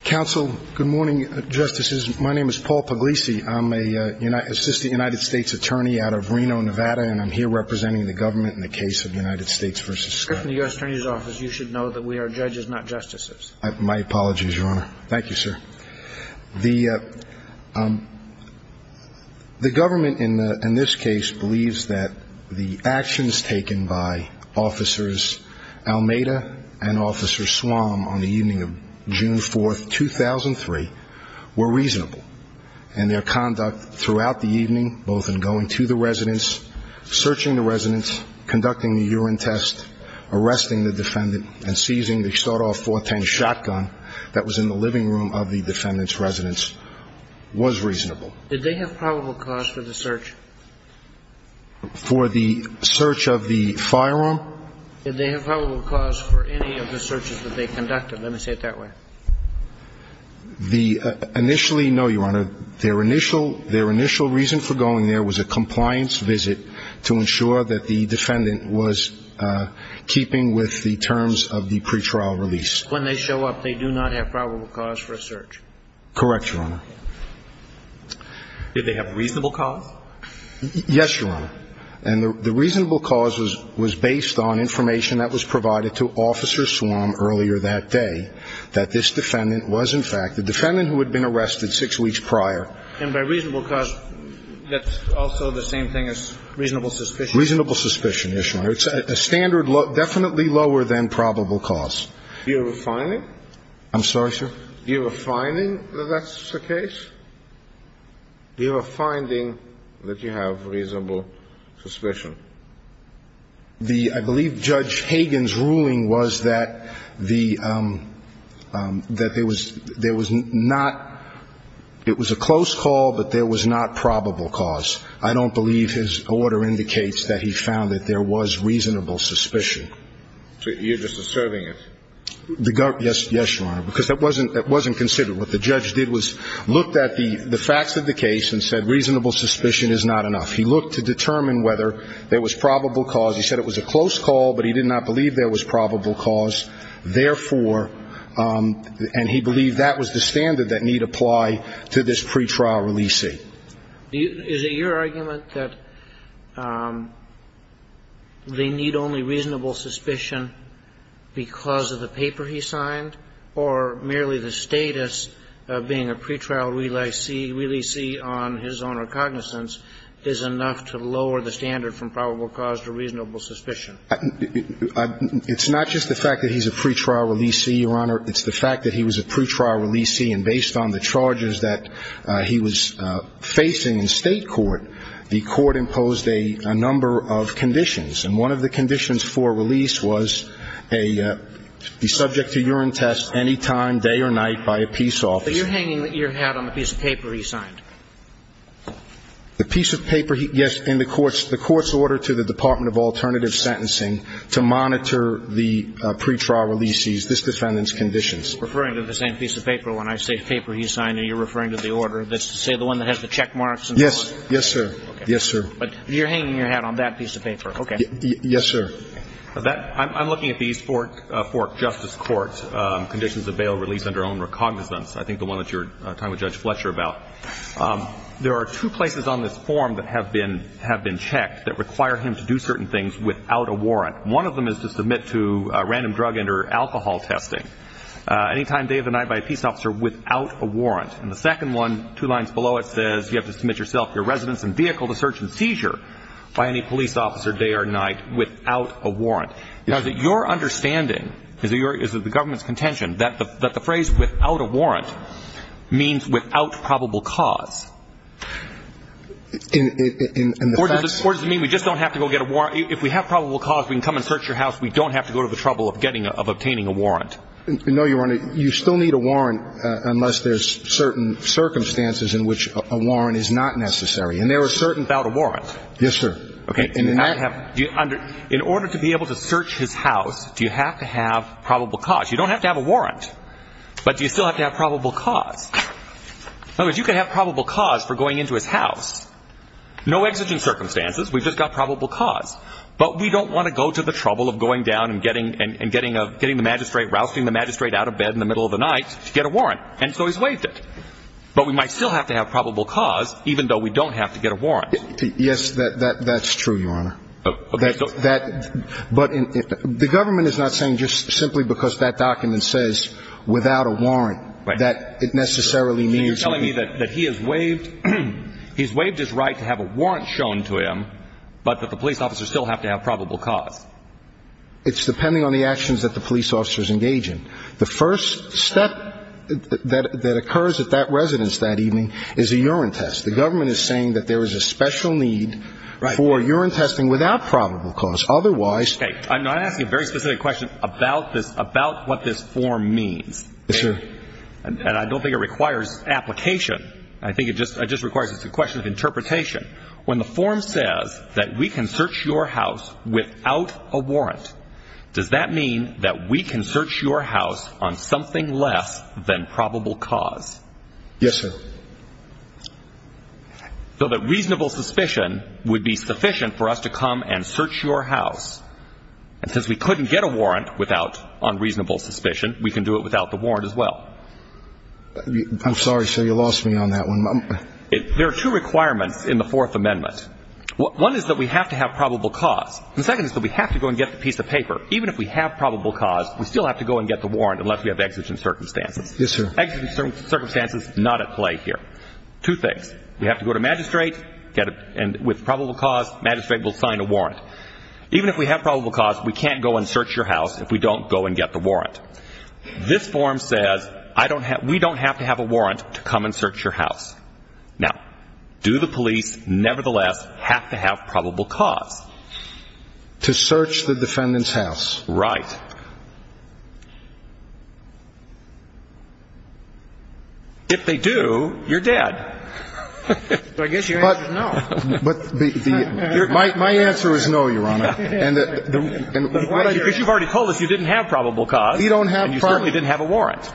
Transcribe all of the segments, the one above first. Council, good morning, justices. My name is Paul Puglisi. I'm an assistant United States attorney out of Reno, Nevada, and I'm here representing the government in the case of United States v. Scott. If you're in the U.S. Attorney's Office, you should know that we are judges, not justices. My apologies, Your Honor. Thank you, sir. The government in this case believes that the actions taken by Officers Almeida and Officer Swam on the evening of June 4, 2003, were reasonable. And their conduct throughout the evening, both in going to the residence, searching the residence, conducting the urine test, arresting the defendant, and seizing the start-off 410 shotgun that was in the living room of the defendant's residence, was reasonable. Did they have probable cause for the search? For the search of the firearm? Did they have probable cause for any of the searches that they conducted? Let me say it that way. Their initial reason for going there was a compliance visit to ensure that the defendant was keeping with the terms of the pretrial release. When they show up, they do not have probable cause for a search? Correct, Your Honor. Did they have reasonable cause? Yes, Your Honor. And the reasonable cause was based on information that was provided to Officer Swam earlier that day, that this defendant was, in fact, the defendant who had been arrested six weeks prior. And by reasonable cause, that's also the same thing as reasonable suspicion? Reasonable suspicion, Your Honor. It's a standard, definitely lower than probable cause. Do you have a finding? I'm sorry, sir? Do you have a finding that that's the case? Do you have a finding that you have reasonable suspicion? I believe Judge Hagen's ruling was that there was not – it was a close call, but there was not probable cause. I don't believe his order indicates that he found that there was reasonable suspicion. So you're just asserting it? Yes, Your Honor, because that wasn't considered. What the judge did was looked at the facts of the case and said reasonable suspicion is not enough. He looked to determine whether there was probable cause. He said it was a close call, but he did not believe there was probable cause. Therefore – and he believed that was the standard that need apply to this pretrial releasee. Is it your argument that they need only reasonable suspicion because of the paper he signed or merely the status of being a pretrial releasee on his own recognizance is enough to lower the standard from probable cause to reasonable suspicion? It's not just the fact that he's a pretrial releasee, Your Honor. It's the fact that he was a pretrial releasee, and based on the charges that he was facing in State court, he was subject to urine test any time, day or night by a peace officer. But you're hanging your hat on the piece of paper he signed. The piece of paper – yes, in the court's order to the Department of Alternative Sentencing to monitor the pretrial releasees, this defendant's conditions. Referring to the same piece of paper when I say paper he signed and you're referring to the order that's, say, the one that has the check marks and so on? Yes, sir. Yes, sir. But you're hanging your hat on that piece of paper. Yes, sir. I'm looking at the East Fork Justice Court's conditions of bail release under own recognizance. I think the one that you were talking to Judge Fletcher about. There are two places on this form that have been checked that require him to do certain things without a warrant. One of them is to submit to random drug and or alcohol testing any time, day or night, by a peace officer without a warrant. And the second one, two lines below it, says you have to submit yourself, your residence and vehicle to search and seizure by any police officer day or night without a warrant. Now, is it your understanding, is it the government's contention, that the phrase without a warrant means without probable cause? In the facts? Or does it mean we just don't have to go get a warrant? If we have probable cause, we can come and search your house. We don't have to go to the trouble of obtaining a warrant. No, Your Honor. You still need a warrant unless there's certain circumstances in which a warrant is not necessary. And there are certain – Without a warrant? Yes, sir. Okay. In order to be able to search his house, do you have to have probable cause? You don't have to have a warrant. But do you still have to have probable cause? In other words, you can have probable cause for going into his house. No exigent circumstances. We've just got probable cause. But we don't want to go to the trouble of going down and getting the magistrate – rousting the magistrate out of bed in the middle of the night to get a warrant. And so he's waived it. But we might still have to have probable cause even though we don't have to get a warrant. Yes, that's true, Your Honor. Okay. But the government is not saying just simply because that document says without a warrant that it necessarily means – It's depending on the actions that the police officers engage in. The first step that occurs at that residence that evening is a urine test. The government is saying that there is a special need for urine testing without probable cause. Otherwise – Okay. I'm not asking a very specific question about this – about what this form means. Yes, sir. And I don't think it requires application. I think it just requires a question of interpretation. When the form says that we can search your house without a warrant, does that mean that we can search your house on something less than probable cause? Yes, sir. So that reasonable suspicion would be sufficient for us to come and search your house. And since we couldn't get a warrant without unreasonable suspicion, we can do it without the warrant as well. I'm sorry, sir. You lost me on that one. There are two requirements in the Fourth Amendment. One is that we have to have probable cause. The second is that we have to go and get the piece of paper. Even if we have probable cause, we still have to go and get the warrant unless we have exigent circumstances. Yes, sir. Exigent circumstances not at play here. Two things. We have to go to magistrate and with probable cause magistrate will sign a warrant. Even if we have probable cause, we can't go and search your house if we don't go and get the warrant. This form says we don't have to have a warrant to come and search your house. Now, do the police nevertheless have to have probable cause? To search the defendant's house. Right. If they do, you're dead. I guess your answer is no. My answer is no, Your Honor. Because you've already told us you didn't have probable cause. You don't have probable cause. And you certainly didn't have a warrant.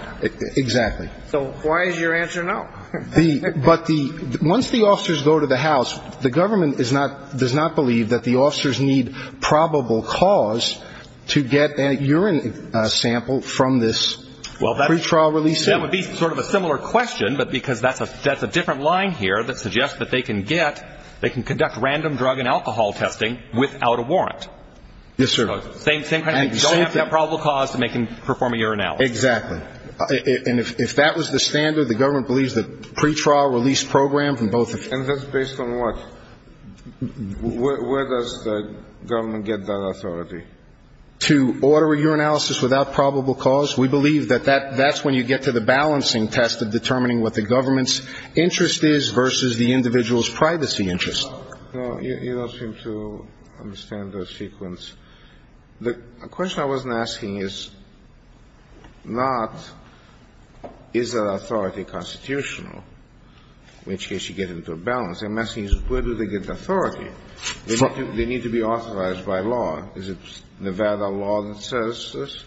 Exactly. So why is your answer no? But once the officers go to the house, the government does not believe that the officers need probable cause to get a urine sample from this pretrial release. That would be sort of a similar question, but because that's a different line here that suggests that they can get, they can conduct random drug and alcohol testing without a warrant. Yes, sir. Same kind of thing. You don't have to have probable cause to perform a urinalysis. Exactly. And if that was the standard, the government believes that pretrial release program from both of you. And that's based on what? Where does the government get that authority? To order a urinalysis without probable cause. We believe that that's when you get to the balancing test of determining what the government's interest is versus the individual's privacy interest. No, you don't seem to understand the sequence. The question I wasn't asking is not is that authority constitutional, in which case you get into a balance. I'm asking is where do they get authority? They need to be authorized by law. Is it Nevada law that says this?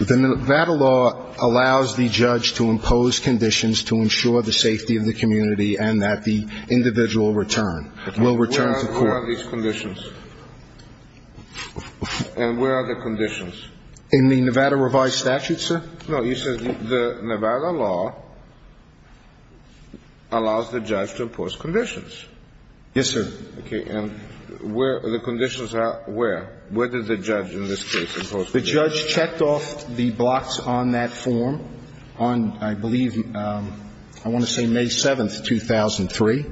The Nevada law allows the judge to impose conditions to ensure the safety of the community and that the individual will return to court. Where are these conditions? And where are the conditions? In the Nevada revised statute, sir. No, you said the Nevada law allows the judge to impose conditions. Yes, sir. Okay. Where does the judge in this case impose conditions? The judge checked off the blocks on that form on, I believe, I want to say May 7th, 2003.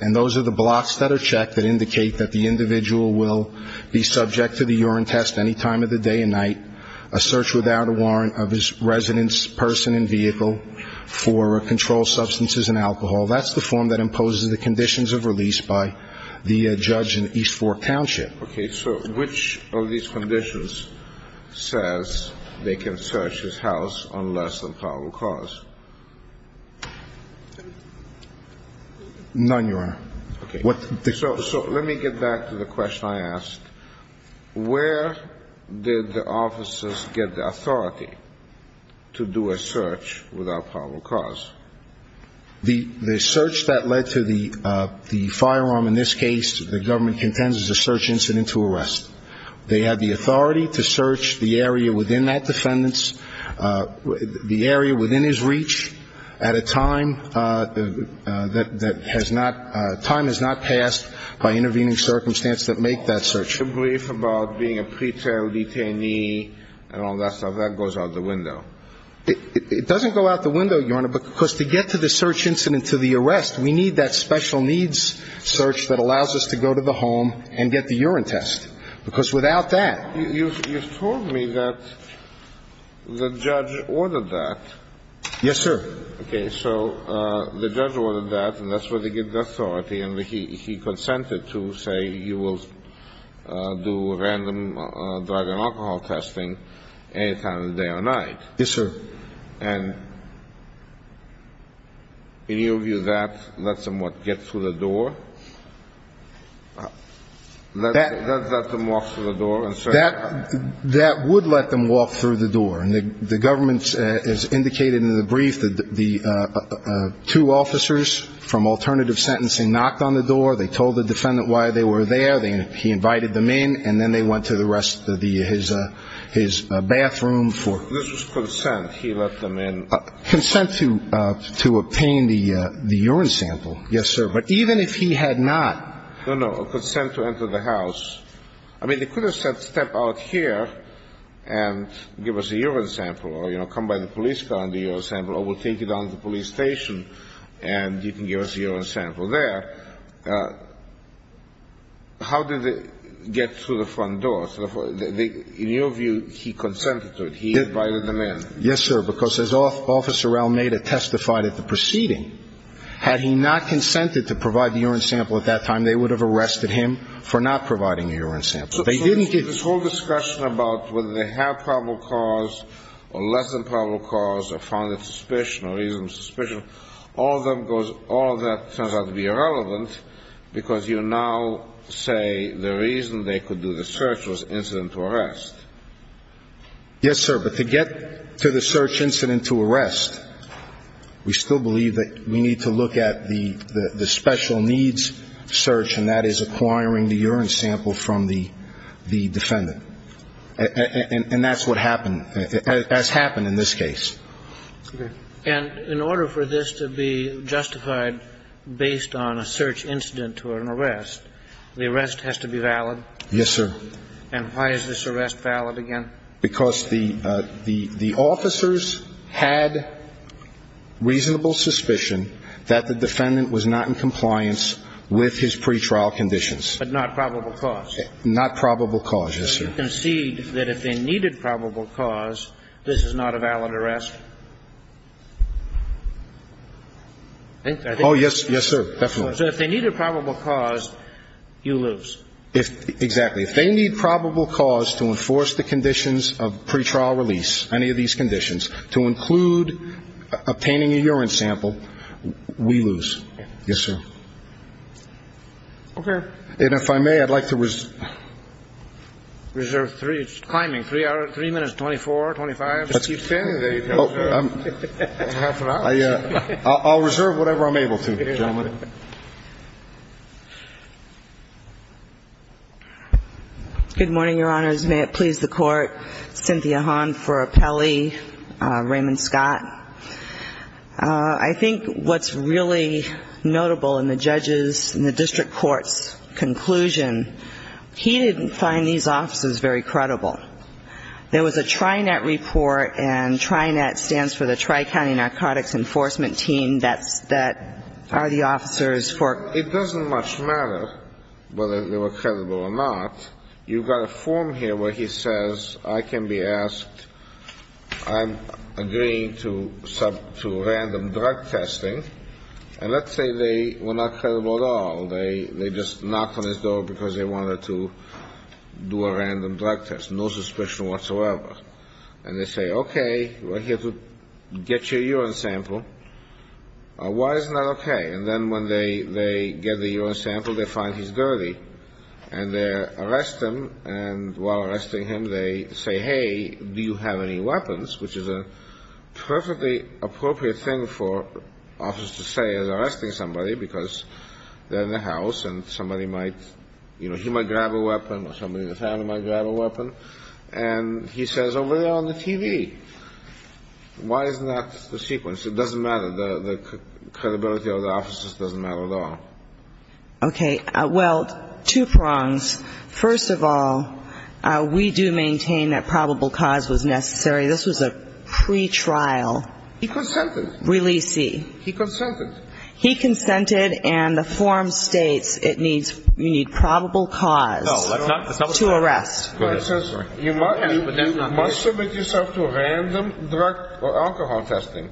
And those are the blocks that are checked that indicate that the individual will be subject to the urine test any time of the day and night, a search without a warrant of his residence, person and vehicle for controlled substances and alcohol. That's the form that imposes the conditions of release by the judge in East Fork Township. Okay. So which of these conditions says they can search his house on less than probable cause? None, Your Honor. Okay. So let me get back to the question I asked. Where did the officers get the authority to do a search without probable cause? The search that led to the firearm in this case, the government contends, is a search incident to arrest. They had the authority to search the area within that defendant's, the area within his reach at a time that has not, time has not passed by intervening circumstance that make that search. The brief about being a pretrial detainee and all that stuff, that goes out the window. It doesn't go out the window, Your Honor, because to get to the search incident to the arrest, we need that special needs search that allows us to go to the home and get the urine test. Because without that. You've told me that the judge ordered that. Yes, sir. Okay. So the judge ordered that, and that's where they get the authority, and he consented to, say, you will do a random drug and alcohol testing any time of the day or night. Yes, sir. And in your view, that lets them, what, get through the door? That lets them walk through the door and search? That would let them walk through the door. And the government has indicated in the brief that the two officers from alternative sentencing knocked on the door. They told the defendant why they were there. He invited them in, and then they went to the rest of his bathroom for. This was consent. He let them in. Consent to obtain the urine sample. Yes, sir. But even if he had not. No, no. Consent to enter the house. I mean, they could have said step out here and give us a urine sample or, you know, come by the police car and the urine sample, or we'll take you down to the police station and you can give us a urine sample there. How did they get through the front door? In your view, he consented to it. He invited them in. Yes, sir, because as Officer Almeida testified at the proceeding, had he not consented to provide the urine sample at that time, they would have arrested him for not providing a urine sample. They didn't get. So this whole discussion about whether they have probable cause or less than probable cause or reason of suspicion, all of that turns out to be irrelevant, because you now say the reason they could do the search was incident to arrest. Yes, sir, but to get to the search incident to arrest, we still believe that we need to look at the special needs search, and that is acquiring the urine sample from the defendant. And that's what happened, has happened in this case. And in order for this to be justified based on a search incident to an arrest, the arrest has to be valid? Yes, sir. And why is this arrest valid again? Because the officers had reasonable suspicion that the defendant was not in compliance with his pretrial conditions. But not probable cause. Not probable cause, yes, sir. You concede that if they needed probable cause, this is not a valid arrest? Oh, yes, yes, sir, definitely. So if they needed probable cause, you lose. Exactly. If they need probable cause to enforce the conditions of pretrial release, any of these conditions, to include obtaining a urine sample, we lose. Yes, sir. Okay. And if I may, I'd like to reserve three minutes, 24, 25. Half an hour. I'll reserve whatever I'm able to, gentlemen. Good morning, Your Honors. May it please the Court. Cynthia Hahn for Appelli. Raymond Scott. I think what's really notable in the judges' and the district court's conclusion, he didn't find these officers very credible. There was a TRINET report, and TRINET stands for the Tri-County Narcotics Enforcement Team, that's the officers for ---- It doesn't much matter whether they were credible or not. You've got a form here where he says, I can be asked, I'm agreeing to random drug testing. And let's say they were not credible at all. They just knocked on his door because they wanted to do a random drug test, no suspicion whatsoever. And they say, okay, we're here to get you a urine sample. Why is that okay? And then when they get the urine sample, they find he's dirty. And they arrest him. And while arresting him, they say, hey, do you have any weapons, which is a perfectly appropriate thing for officers to say as arresting somebody, because they're in the house and somebody might, you know, he might grab a weapon or somebody in the family might grab a weapon. And he says, over there on the TV. Why isn't that the sequence? The credibility of the officers doesn't matter at all. Okay. Well, two prongs. First of all, we do maintain that probable cause was necessary. This was a pretrial. He consented. Releasee. He consented. He consented. And the form states it needs probable cause to arrest. You must submit yourself to random drug or alcohol testing.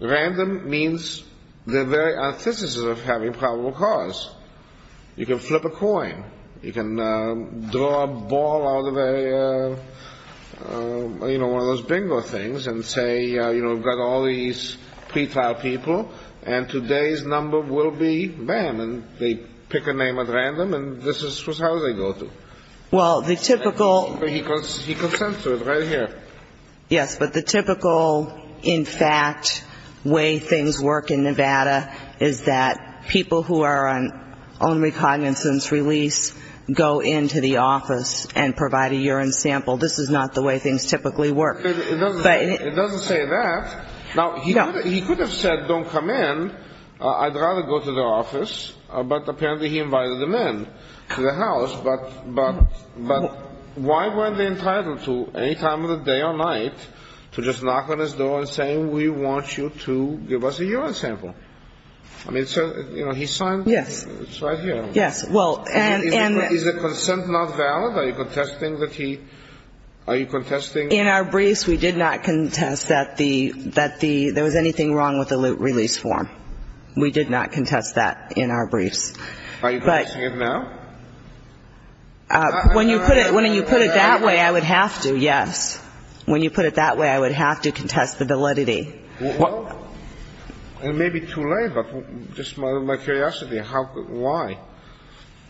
Random means the very antithesis of having probable cause. You can flip a coin. You can draw a ball out of a, you know, one of those bingo things and say, you know, we've got all these pretrial people, and today's number will be them. And they pick a name at random, and this is how they go to it. Well, the typical. He consents to it right here. Yes. But the typical, in fact, way things work in Nevada is that people who are on only cognizance release go into the office and provide a urine sample. This is not the way things typically work. It doesn't say that. Now, he could have said, don't come in. I'd rather go to the office. But apparently he invited them in to the house. But why weren't they entitled to, any time of the day or night, to just knock on his door and say, we want you to give us a urine sample? I mean, so, you know, he signed. Yes. It's right here. Yes. Well, and. Is the consent not valid? Are you contesting that he. Are you contesting. In our briefs, we did not contest that there was anything wrong with the loop release form. We did not contest that in our briefs. Are you contesting it now? When you put it that way, I would have to, yes. When you put it that way, I would have to contest the validity. Well, it may be too late. But just out of my curiosity, why?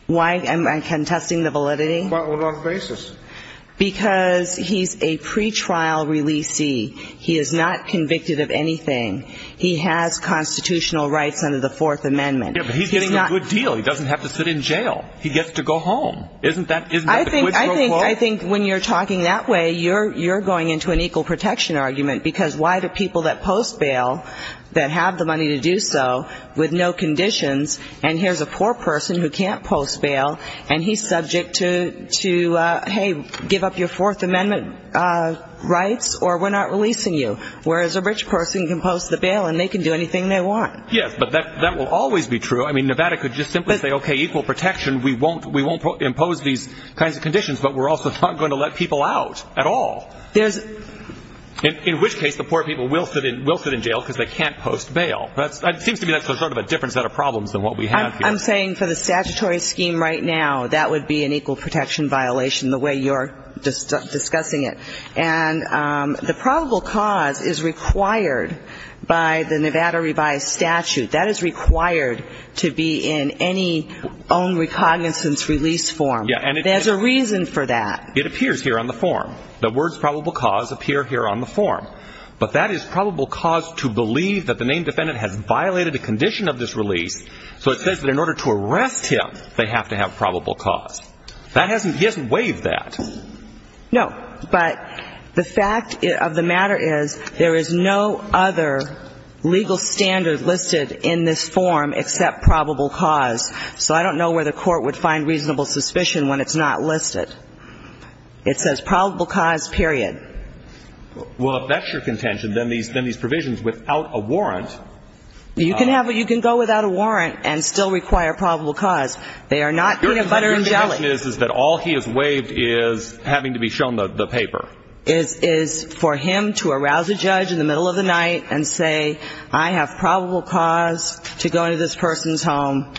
Why am I contesting the validity? Well, on what basis? Because he's a pretrial releasee. He is not convicted of anything. He has constitutional rights under the Fourth Amendment. Yeah, but he's getting a good deal. He doesn't have to sit in jail. He gets to go home. Isn't that the quid pro quo? I think when you're talking that way, you're going into an equal protection argument, because why do people that post bail that have the money to do so with no conditions, and here's a poor person who can't post bail, and he's subject to, hey, give up your Fourth Amendment rights or we're not releasing you, whereas a rich person can post the bail and they can do anything they want. Yes, but that will always be true. I mean, Nevada could just simply say, okay, equal protection, we won't impose these kinds of conditions, but we're also not going to let people out at all, in which case the poor people will sit in jail because they can't post bail. It seems to me that's sort of a different set of problems than what we have here. I'm saying for the statutory scheme right now, that would be an equal protection violation the way you're discussing it. And the probable cause is required by the Nevada revised statute. That is required to be in any own recognizance release form. There's a reason for that. It appears here on the form. The words probable cause appear here on the form. But that is probable cause to believe that the named defendant has violated a condition of this release, so it says that in order to arrest him, they have to have probable cause. He hasn't waived that. No. But the fact of the matter is there is no other legal standard listed in this form except probable cause. So I don't know where the Court would find reasonable suspicion when it's not listed. It says probable cause, period. Well, if that's your contention, then these provisions without a warrant. You can go without a warrant and still require probable cause. They are not peanut butter and jelly. My question is, is that all he has waived is having to be shown the paper. It is for him to arouse a judge in the middle of the night and say, I have probable cause to go into this person's home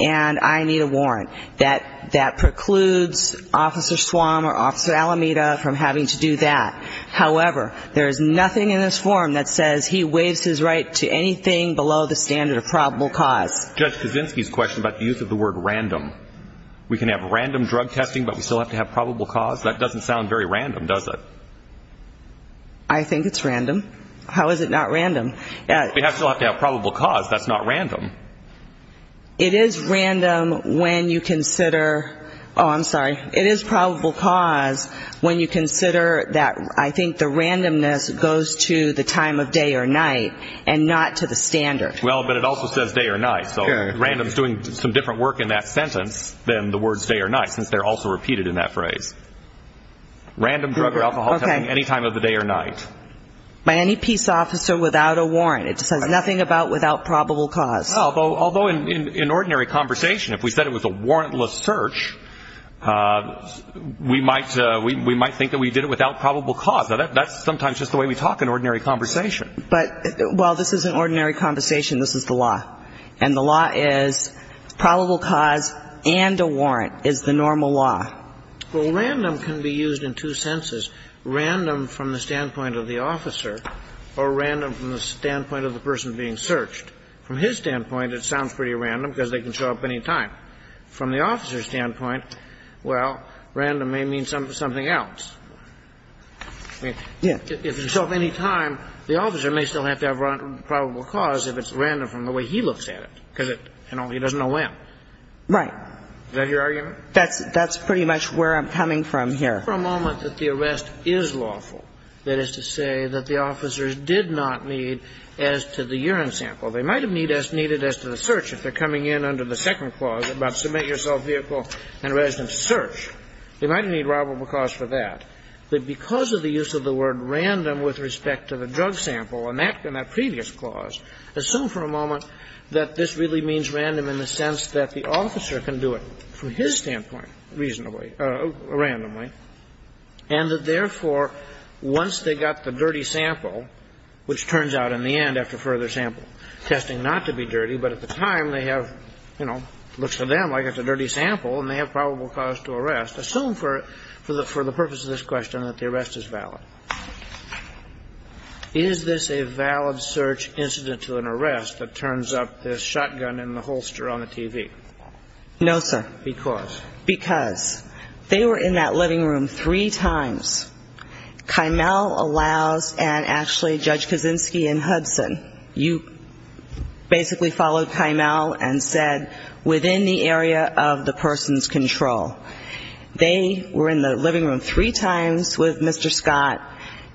and I need a warrant. That precludes Officer Suam or Officer Alameda from having to do that. However, there is nothing in this form that says he waives his right to anything below the standard of probable cause. Judge Kaczynski's question about the use of the word random. We can have random drug testing, but we still have to have probable cause? That doesn't sound very random, does it? I think it's random. How is it not random? We still have to have probable cause. That's not random. It is random when you consider, oh, I'm sorry. It is probable cause when you consider that I think the randomness goes to the time of day or night and not to the standard. Well, but it also says day or night. So random is doing some different work in that sentence than the words day or night since they're also repeated in that phrase. Random drug or alcohol testing any time of the day or night. By any peace officer without a warrant. It says nothing about without probable cause. Although in ordinary conversation, if we said it was a warrantless search, we might think that we did it without probable cause. That's sometimes just the way we talk in ordinary conversation. But while this is an ordinary conversation, this is the law. And the law is probable cause and a warrant is the normal law. Well, random can be used in two senses, random from the standpoint of the officer or random from the standpoint of the person being searched. From his standpoint, it sounds pretty random because they can show up any time. From the officer's standpoint, well, random may mean something else. If you show up any time, the officer may still have to have probable cause if it's random from the way he looks at it because he doesn't know when. Right. Is that your argument? That's pretty much where I'm coming from here. For a moment that the arrest is lawful, that is to say that the officers did not need as to the urine sample. They might have needed as to the search if they're coming in under the second clause about submit yourself, vehicle and residence search. They might have needed probable cause for that. But because of the use of the word random with respect to the drug sample in that previous clause, assume for a moment that this really means random in the sense that the officer can do it from his standpoint reasonably, randomly. And that, therefore, once they got the dirty sample, which turns out in the end after further sample testing not to be dirty, but at the time they have, you know, looks to them like it's a dirty sample and they have probable cause to arrest. Assume for the purpose of this question that the arrest is valid. Is this a valid search incident to an arrest that turns up this shotgun in the holster on the TV? No, sir. Because? Because. They were in that living room three times. You basically followed Kimele and said within the area of the person's control. They were in the living room three times with Mr. Scott.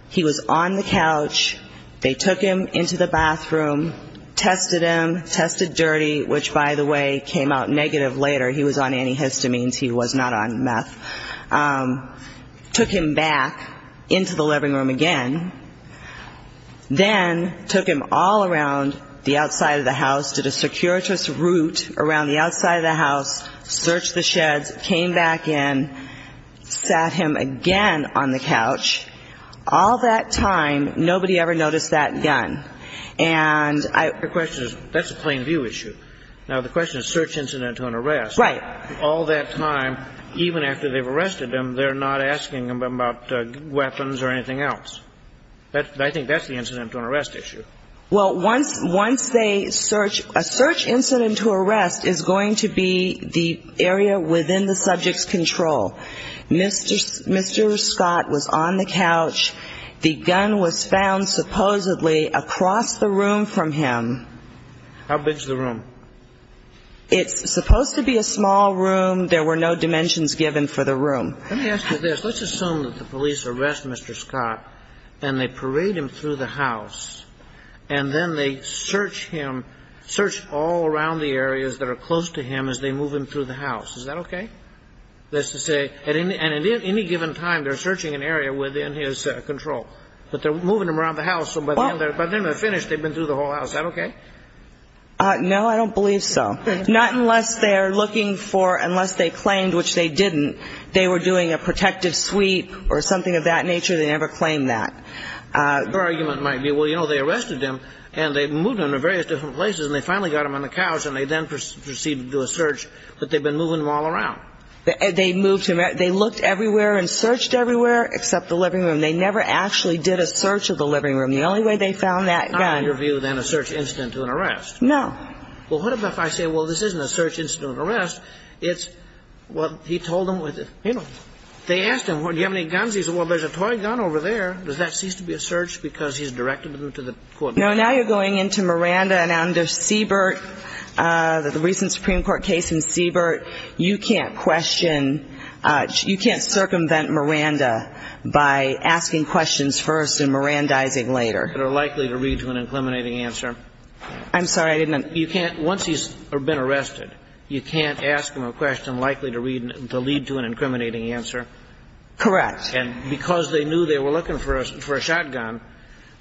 He was on the couch. They took him into the bathroom, tested him, tested dirty, which, by the way, came out negative later. He was on antihistamines. He was not on meth. Took him back into the living room again. Then took him all around the outside of the house, did a circuitous route around the outside of the house, searched the sheds, came back in, sat him again on the couch. All that time, nobody ever noticed that gun. And I. The question is, that's a plain view issue. Now, the question is search incident to an arrest. Right. All that time, even after they've arrested him, they're not asking him about weapons or anything else. I think that's the incident to an arrest issue. Well, once they search, a search incident to arrest is going to be the area within the subject's control. Mr. Scott was on the couch. The gun was found supposedly across the room from him. How big is the room? It's supposed to be a small room. There were no dimensions given for the room. Let me ask you this. Let's assume that the police arrest Mr. Scott and they parade him through the house, and then they search him, search all around the areas that are close to him as they move him through the house. Is that okay? That's to say, and at any given time, they're searching an area within his control. But they're moving him around the house, so by the time they're finished, they've been through the whole house. Is that okay? No, I don't believe so. Not unless they're looking for unless they claimed, which they didn't, they were doing a protective sweep or something of that nature. They never claimed that. Their argument might be, well, you know, they arrested him, and they moved him to various different places, and they finally got him on the couch, and they then proceeded to do a search. But they've been moving him all around. They moved him. They looked everywhere and searched everywhere except the living room. They never actually did a search of the living room. The only way they found that gun. In your view, then, a search incident to an arrest. No. Well, what if I say, well, this isn't a search incident to an arrest. It's, well, he told them, you know, they asked him, well, do you have any guns? He said, well, there's a toy gun over there. Does that cease to be a search because he's directed them to the court? No, now you're going into Miranda and under Siebert, the recent Supreme Court case in Siebert, you can't question, you can't circumvent Miranda by asking questions first and Mirandizing later. They're likely to lead to an incriminating answer. I'm sorry, I didn't understand. Once he's been arrested, you can't ask him a question likely to lead to an incriminating answer. Correct. And because they knew they were looking for a shotgun,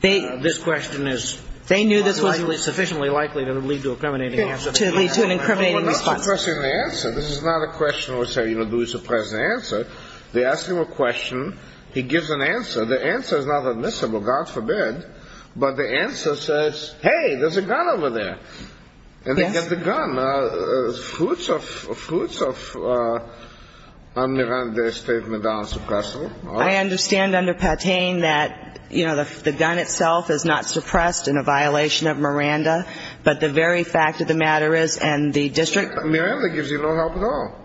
this question is sufficiently likely to lead to an incriminating answer. To lead to an incriminating response. Well, not suppressing the answer. This is not a question where we say, you know, do we suppress the answer. They ask him a question. He gives an answer. The answer is not admissible, God forbid. But the answer says, hey, there's a gun over there. Yes. And they get the gun. Fruits of Miranda's statement on suppression. I understand under Patain that, you know, the gun itself is not suppressed in a violation of Miranda. But the very fact of the matter is, and the district. Miranda gives you no help at all.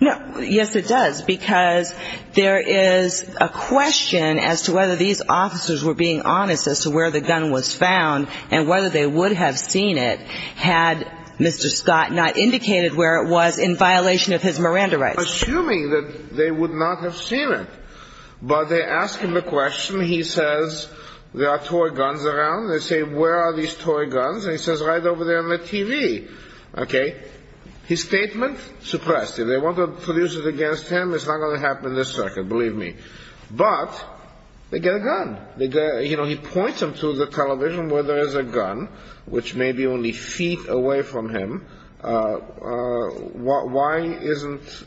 Yes, it does. Because there is a question as to whether these officers were being honest as to where the gun was found. And whether they would have seen it had Mr. Scott not indicated where it was in violation of his Miranda rights. Assuming that they would not have seen it. But they ask him a question. He says there are toy guns around. They say where are these toy guns. And he says right over there on the TV. Okay. His statement? Suppressed. If they want to produce it against him, it's not going to happen in this circuit, believe me. But they get a gun. You know, he points them to the television where there is a gun, which may be only feet away from him. Why isn't,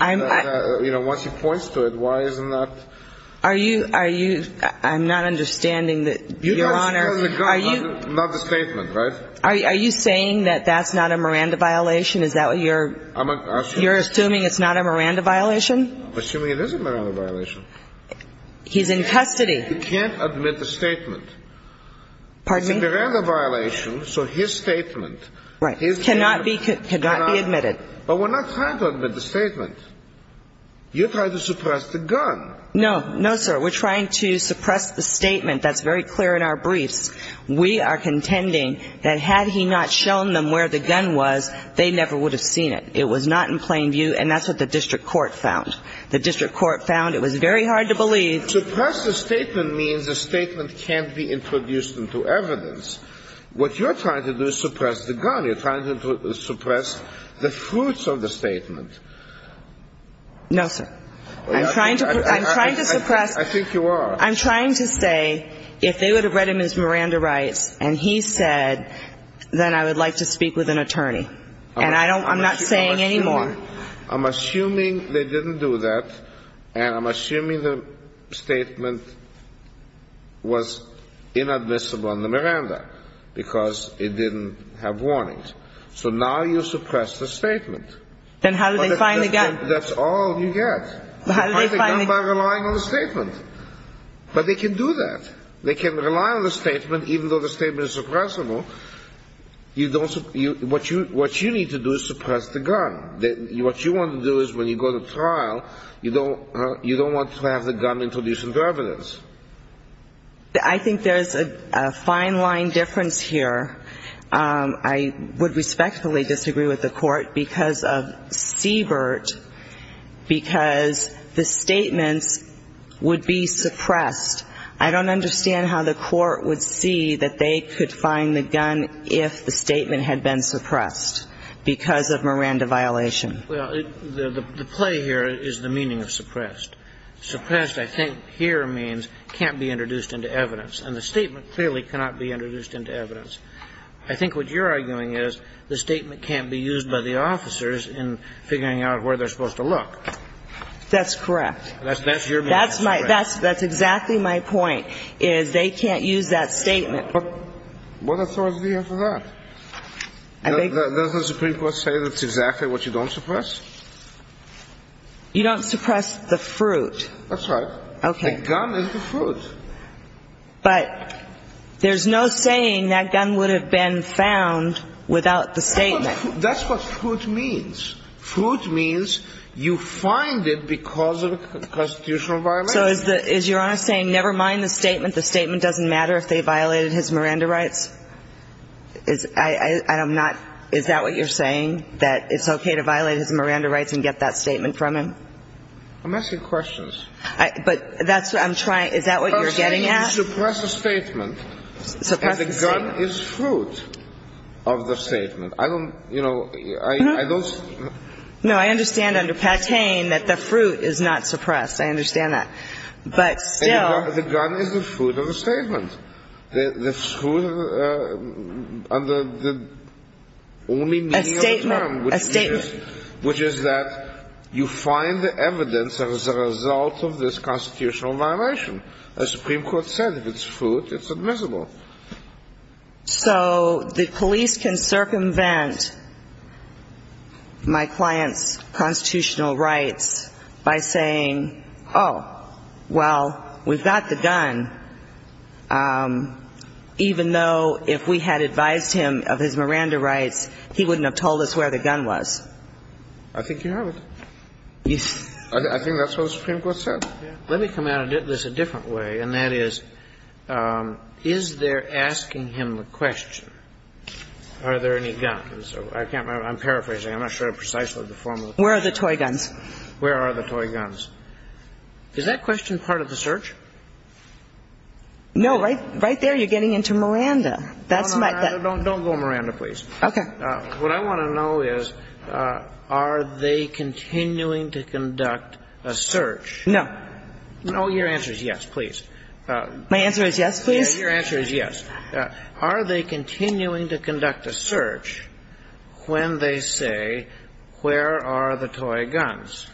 you know, once he points to it, why isn't that? Are you, I'm not understanding that, Your Honor. Not the statement, right? Are you saying that that's not a Miranda violation? Is that what you're, you're assuming it's not a Miranda violation? I'm assuming it is a Miranda violation. He's in custody. He can't admit the statement. Pardon me? It's a Miranda violation, so his statement. Right. Cannot be admitted. But we're not trying to admit the statement. You're trying to suppress the gun. No, no, sir. We're trying to suppress the statement. That's very clear in our briefs. We are contending that had he not shown them where the gun was, they never would have seen it. It was not in plain view, and that's what the district court found. The district court found it was very hard to believe. Suppress the statement means the statement can't be introduced into evidence. What you're trying to do is suppress the gun. You're trying to suppress the fruits of the statement. No, sir. I'm trying to, I'm trying to suppress. I think you are. Well, I'm trying to say if they would have read him as Miranda rights and he said, then I would like to speak with an attorney. And I don't, I'm not saying anymore. I'm assuming they didn't do that, and I'm assuming the statement was inadmissible on the Miranda because it didn't have warnings. So now you suppress the statement. Then how do they find the gun? That's all you get. How do they find the gun? By relying on the statement. But they can do that. They can rely on the statement even though the statement is suppressible. You don't, what you need to do is suppress the gun. What you want to do is when you go to trial, you don't want to have the gun introduced into evidence. I think there's a fine line difference here. I would respectfully disagree with the Court because of Siebert, because the statements would be suppressed. I don't understand how the Court would see that they could find the gun if the statement had been suppressed because of Miranda violation. Well, the play here is the meaning of suppressed. Suppressed, I think, here means can't be introduced into evidence. And the statement clearly cannot be introduced into evidence. I think what you're arguing is the statement can't be used by the officers in figuring out where they're supposed to look. That's correct. That's your meaning of suppressed. That's exactly my point, is they can't use that statement. What authority do you have for that? Does the Supreme Court say that's exactly what you don't suppress? You don't suppress the fruit. That's right. Okay. The gun is the fruit. But there's no saying that gun would have been found without the statement. That's what fruit means. Fruit means you find it because of a constitutional violation. So is Your Honor saying never mind the statement, the statement doesn't matter if they violated his Miranda rights? I'm not – is that what you're saying, that it's okay to violate his Miranda rights and get that statement from him? I'm asking questions. You're saying you suppress the statement. Suppress the statement. And the gun is fruit of the statement. I don't, you know, I don't. No, I understand under Patain that the fruit is not suppressed. I understand that. But still. The gun is the fruit of the statement. The fruit of the only meaning of the term. A statement. Which is that you find the evidence as a result of this constitutional violation. The Supreme Court said if it's fruit, it's admissible. So the police can circumvent my client's constitutional rights by saying, oh, well, we've got the gun. Even though if we had advised him of his Miranda rights, he wouldn't have told us where the gun was. I think you have it. I think that's what the Supreme Court said. Let me come at this a different way, and that is, is there asking him the question, are there any guns? I can't remember. I'm paraphrasing. I'm not sure precisely the form of the question. Where are the toy guns? Where are the toy guns? Is that question part of the search? No. Right there you're getting into Miranda. No, no, no. Don't go Miranda, please. Okay. What I want to know is, are they continuing to conduct a search? No. No, your answer is yes, please. My answer is yes, please? Your answer is yes. Are they continuing to conduct a search when they say, where are the toy guns?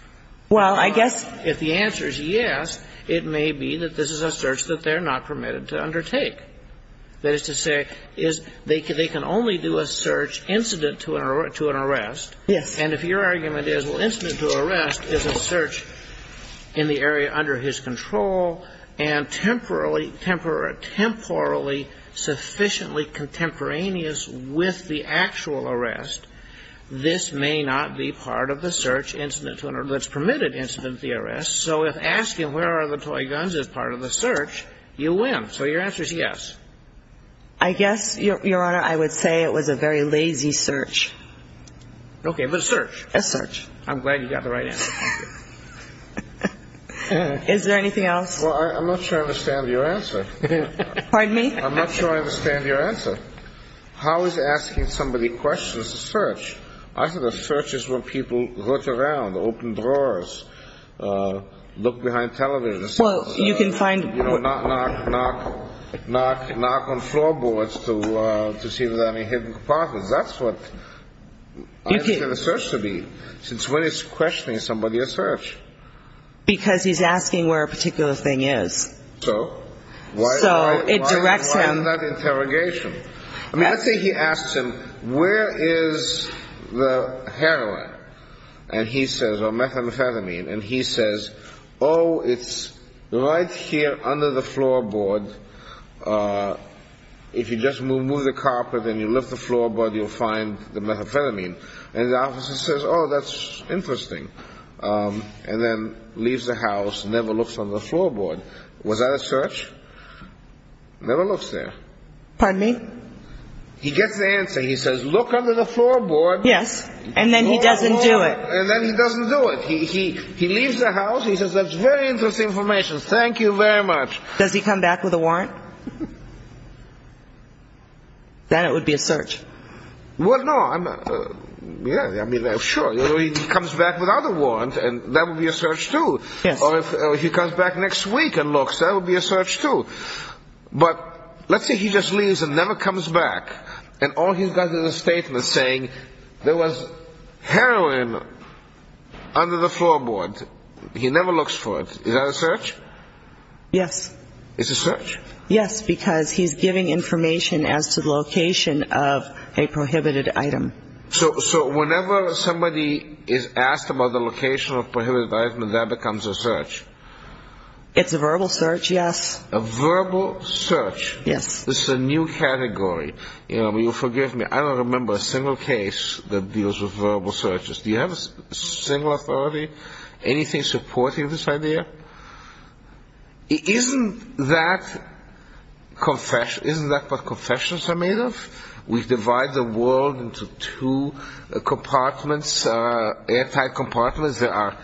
Well, I guess the answer is yes. It may be that this is a search that they're not permitted to undertake. That is to say, they can only do a search incident to an arrest. Yes. And if your argument is, well, incident to arrest is a search in the area under his control and temporally sufficiently contemporaneous with the actual arrest, this may not be part of the search incident to an arrest that's permitted incident to the arrest. So if asking where are the toy guns is part of the search, you win. So your answer is yes. I guess, Your Honor, I would say it was a very lazy search. Okay, but a search. A search. I'm glad you got the right answer. Is there anything else? Well, I'm not sure I understand your answer. Pardon me? I'm not sure I understand your answer. How is asking somebody questions a search? I said a search is when people look around, open drawers, look behind televisions. Well, you can find them. You know, knock, knock, knock on floorboards to see if there are any hidden compartments. That's what I understand a search to be. Since when is questioning somebody a search? Because he's asking where a particular thing is. So? So it directs him. Why is that interrogation? I mean, let's say he asks him, where is the heroin? And he says, or methamphetamine. And he says, oh, it's right here under the floorboard. If you just move the carpet and you lift the floorboard, you'll find the methamphetamine. And the officer says, oh, that's interesting. And then leaves the house, never looks under the floorboard. Was that a search? Never looks there. Pardon me? He gets the answer. He says, look under the floorboard. Yes. And then he doesn't do it. And then he doesn't do it. He leaves the house. He says, that's very interesting information. Thank you very much. Does he come back with a warrant? Then it would be a search. Well, no. Yeah, I mean, sure. He comes back without a warrant, and that would be a search, too. Yes. Or if he comes back next week and looks, that would be a search, too. But let's say he just leaves and never comes back. And all he's got is a statement saying there was heroin under the floorboard. He never looks for it. Is that a search? Yes. It's a search? Yes, because he's giving information as to the location of a prohibited item. So whenever somebody is asked about the location of a prohibited item, that becomes a search? It's a verbal search, yes. A verbal search. Yes. This is a new category. You know, forgive me, I don't remember a single case that deals with verbal searches. Do you have a single authority, anything supporting this idea? Isn't that what confessions are made of? We divide the world into two compartments, airtight compartments. There are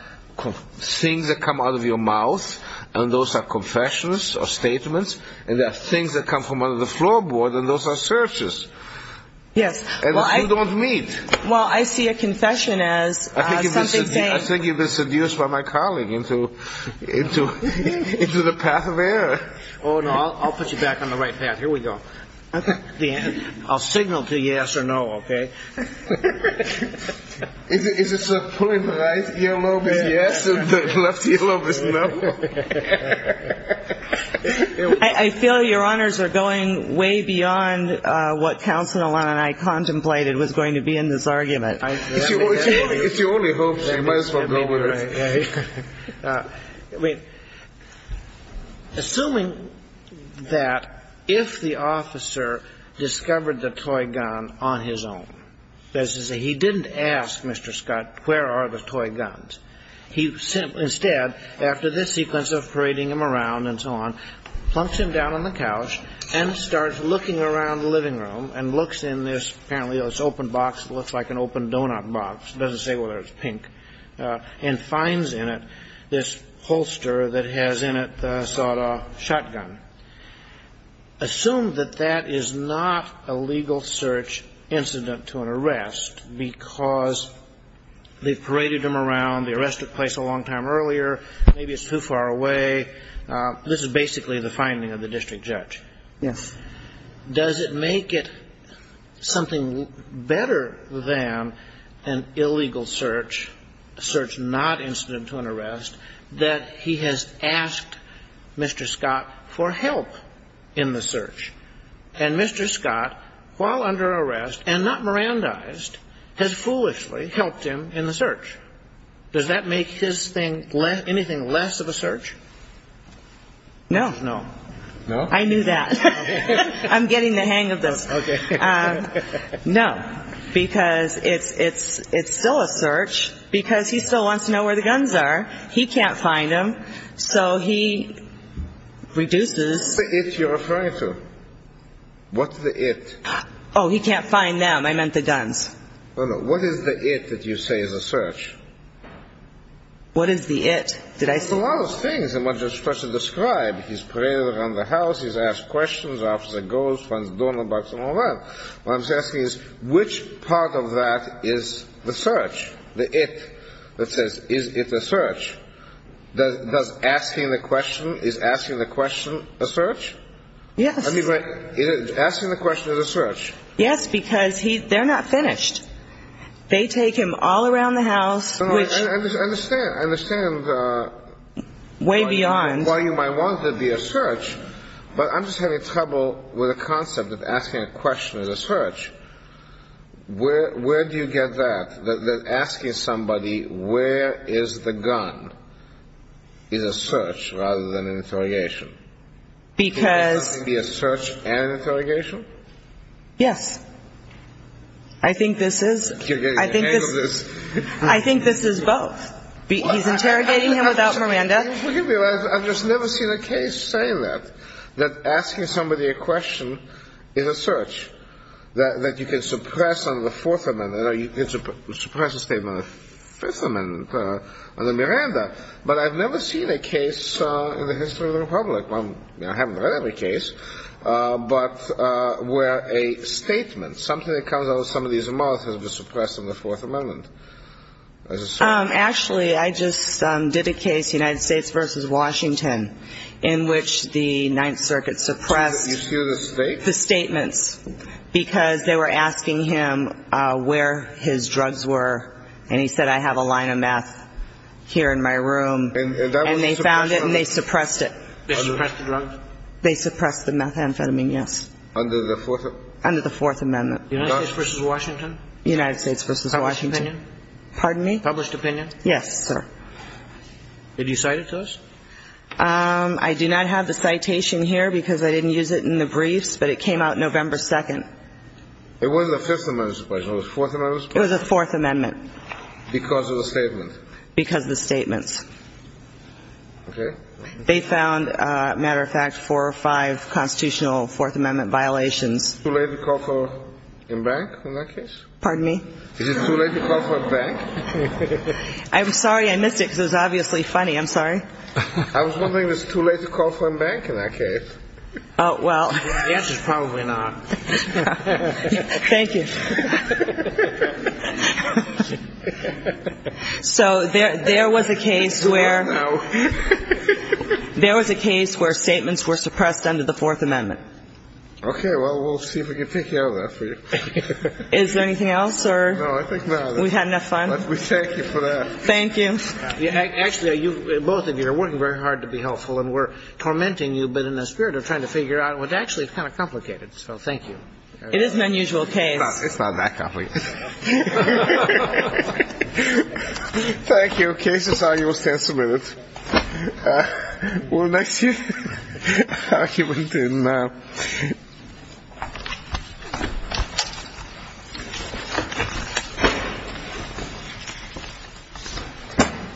things that come out of your mouth, and those are confessions or statements, and there are things that come from under the floorboard, and those are searches. Yes. And you don't meet. Well, I see a confession as something saying. I think you've been seduced by my colleague into the path of error. Oh, no, I'll put you back on the right path. Here we go. Okay. I'll signal to yes or no, okay? Is it pulling the right earlobe is yes and the left earlobe is no? I feel your honors are going way beyond what Counselor Alana and I contemplated was going to be in this argument. If you only hope so, you might as well go with it. I mean, assuming that if the officer discovered the toy gun on his own, that is to say, he didn't ask Mr. Scott, where are the toy guns? Instead, after this sequence of parading him around and so on, plunks him down on the couch and starts looking around the living room and looks in this apparently open box that looks like an open donut box. It doesn't say whether it's pink, and finds in it this holster that has in it the sawed-off shotgun. Assume that that is not a legal search incident to an arrest because they've paraded him around. The arrest took place a long time earlier. Maybe it's too far away. This is basically the finding of the district judge. Yes. Does it make it something better than an illegal search, a search not incident to an arrest, that he has asked Mr. Scott for help in the search? And Mr. Scott, while under arrest and not Mirandized, has foolishly helped him in the search. Does that make his thing anything less of a search? No. No? I knew that. I'm getting the hang of this. No, because it's still a search because he still wants to know where the guns are. He can't find them, so he reduces. What's the it you're referring to? Oh, he can't find them. I meant the guns. No, no. What is the it that you say is a search? What is the it? Did I say that? Well, there's a lot of things. I'm not just supposed to describe. He's paraded around the house. He's asked questions. The officer goes. Finds a donor box and all that. What I'm asking is, which part of that is the search, the it that says, is it a search? Yes. I mean, asking the question is a search. Yes, because they're not finished. They take him all around the house. I understand. I understand. Way beyond. While you might want it to be a search, but I'm just having trouble with the concept of asking a question is a search. Where do you get that, that asking somebody, where is the gun, is a search rather than an interrogation? Because. Can it be a search and an interrogation? Yes. I think this is. I think this is. I think this is both. He's interrogating him without Miranda. I've just never seen a case say that, that asking somebody a question is a search, that you can suppress on the Fourth Amendment, or you can suppress a statement on the Fifth Amendment under Miranda. But I've never seen a case in the history of the Republic. I haven't read every case, but where a statement, something that comes out of somebody's mouth has been suppressed on the Fourth Amendment. Actually, I just did a case, United States v. Washington, in which the Ninth Circuit suppressed. Did you hear the state? The statements, because they were asking him where his drugs were, and he said, I have a line of meth here in my room. And that was a suppression? And they found it and they suppressed it. They suppressed the drugs? They suppressed the methamphetamine, yes. Under the Fourth? Under the Fourth Amendment. United States v. Washington? United States v. Washington. Published opinion? Pardon me? Published opinion? Yes, sir. Did you cite it to us? I do not have the citation here because I didn't use it in the briefs, but it came out November 2nd. It wasn't the Fifth Amendment suppression, it was the Fourth Amendment suppression? It was the Fourth Amendment. Because of the statements? Because of the statements. Okay. They found, matter of fact, four or five constitutional Fourth Amendment violations. Too late to call for embankment in that case? Pardon me? Is it too late to call for embankment? I'm sorry, I missed it, because it was obviously funny. I'm sorry. I was wondering, is it too late to call for embankment in that case? Oh, well. The answer is probably not. Thank you. So there was a case where statements were suppressed under the Fourth Amendment. Okay. Well, we'll see if we can take care of that for you. Is there anything else? No, I think that's it. We've had enough fun? We thank you for that. Thank you. Actually, both of you are working very hard to be helpful, and we're tormenting you a bit in the spirit of trying to figure out. Well, actually, it's kind of complicated, so thank you. It is an unusual case. It's not that complicated. Thank you. Okay. This is how you will stand submitted. Well, next year, I'll keep on doing that.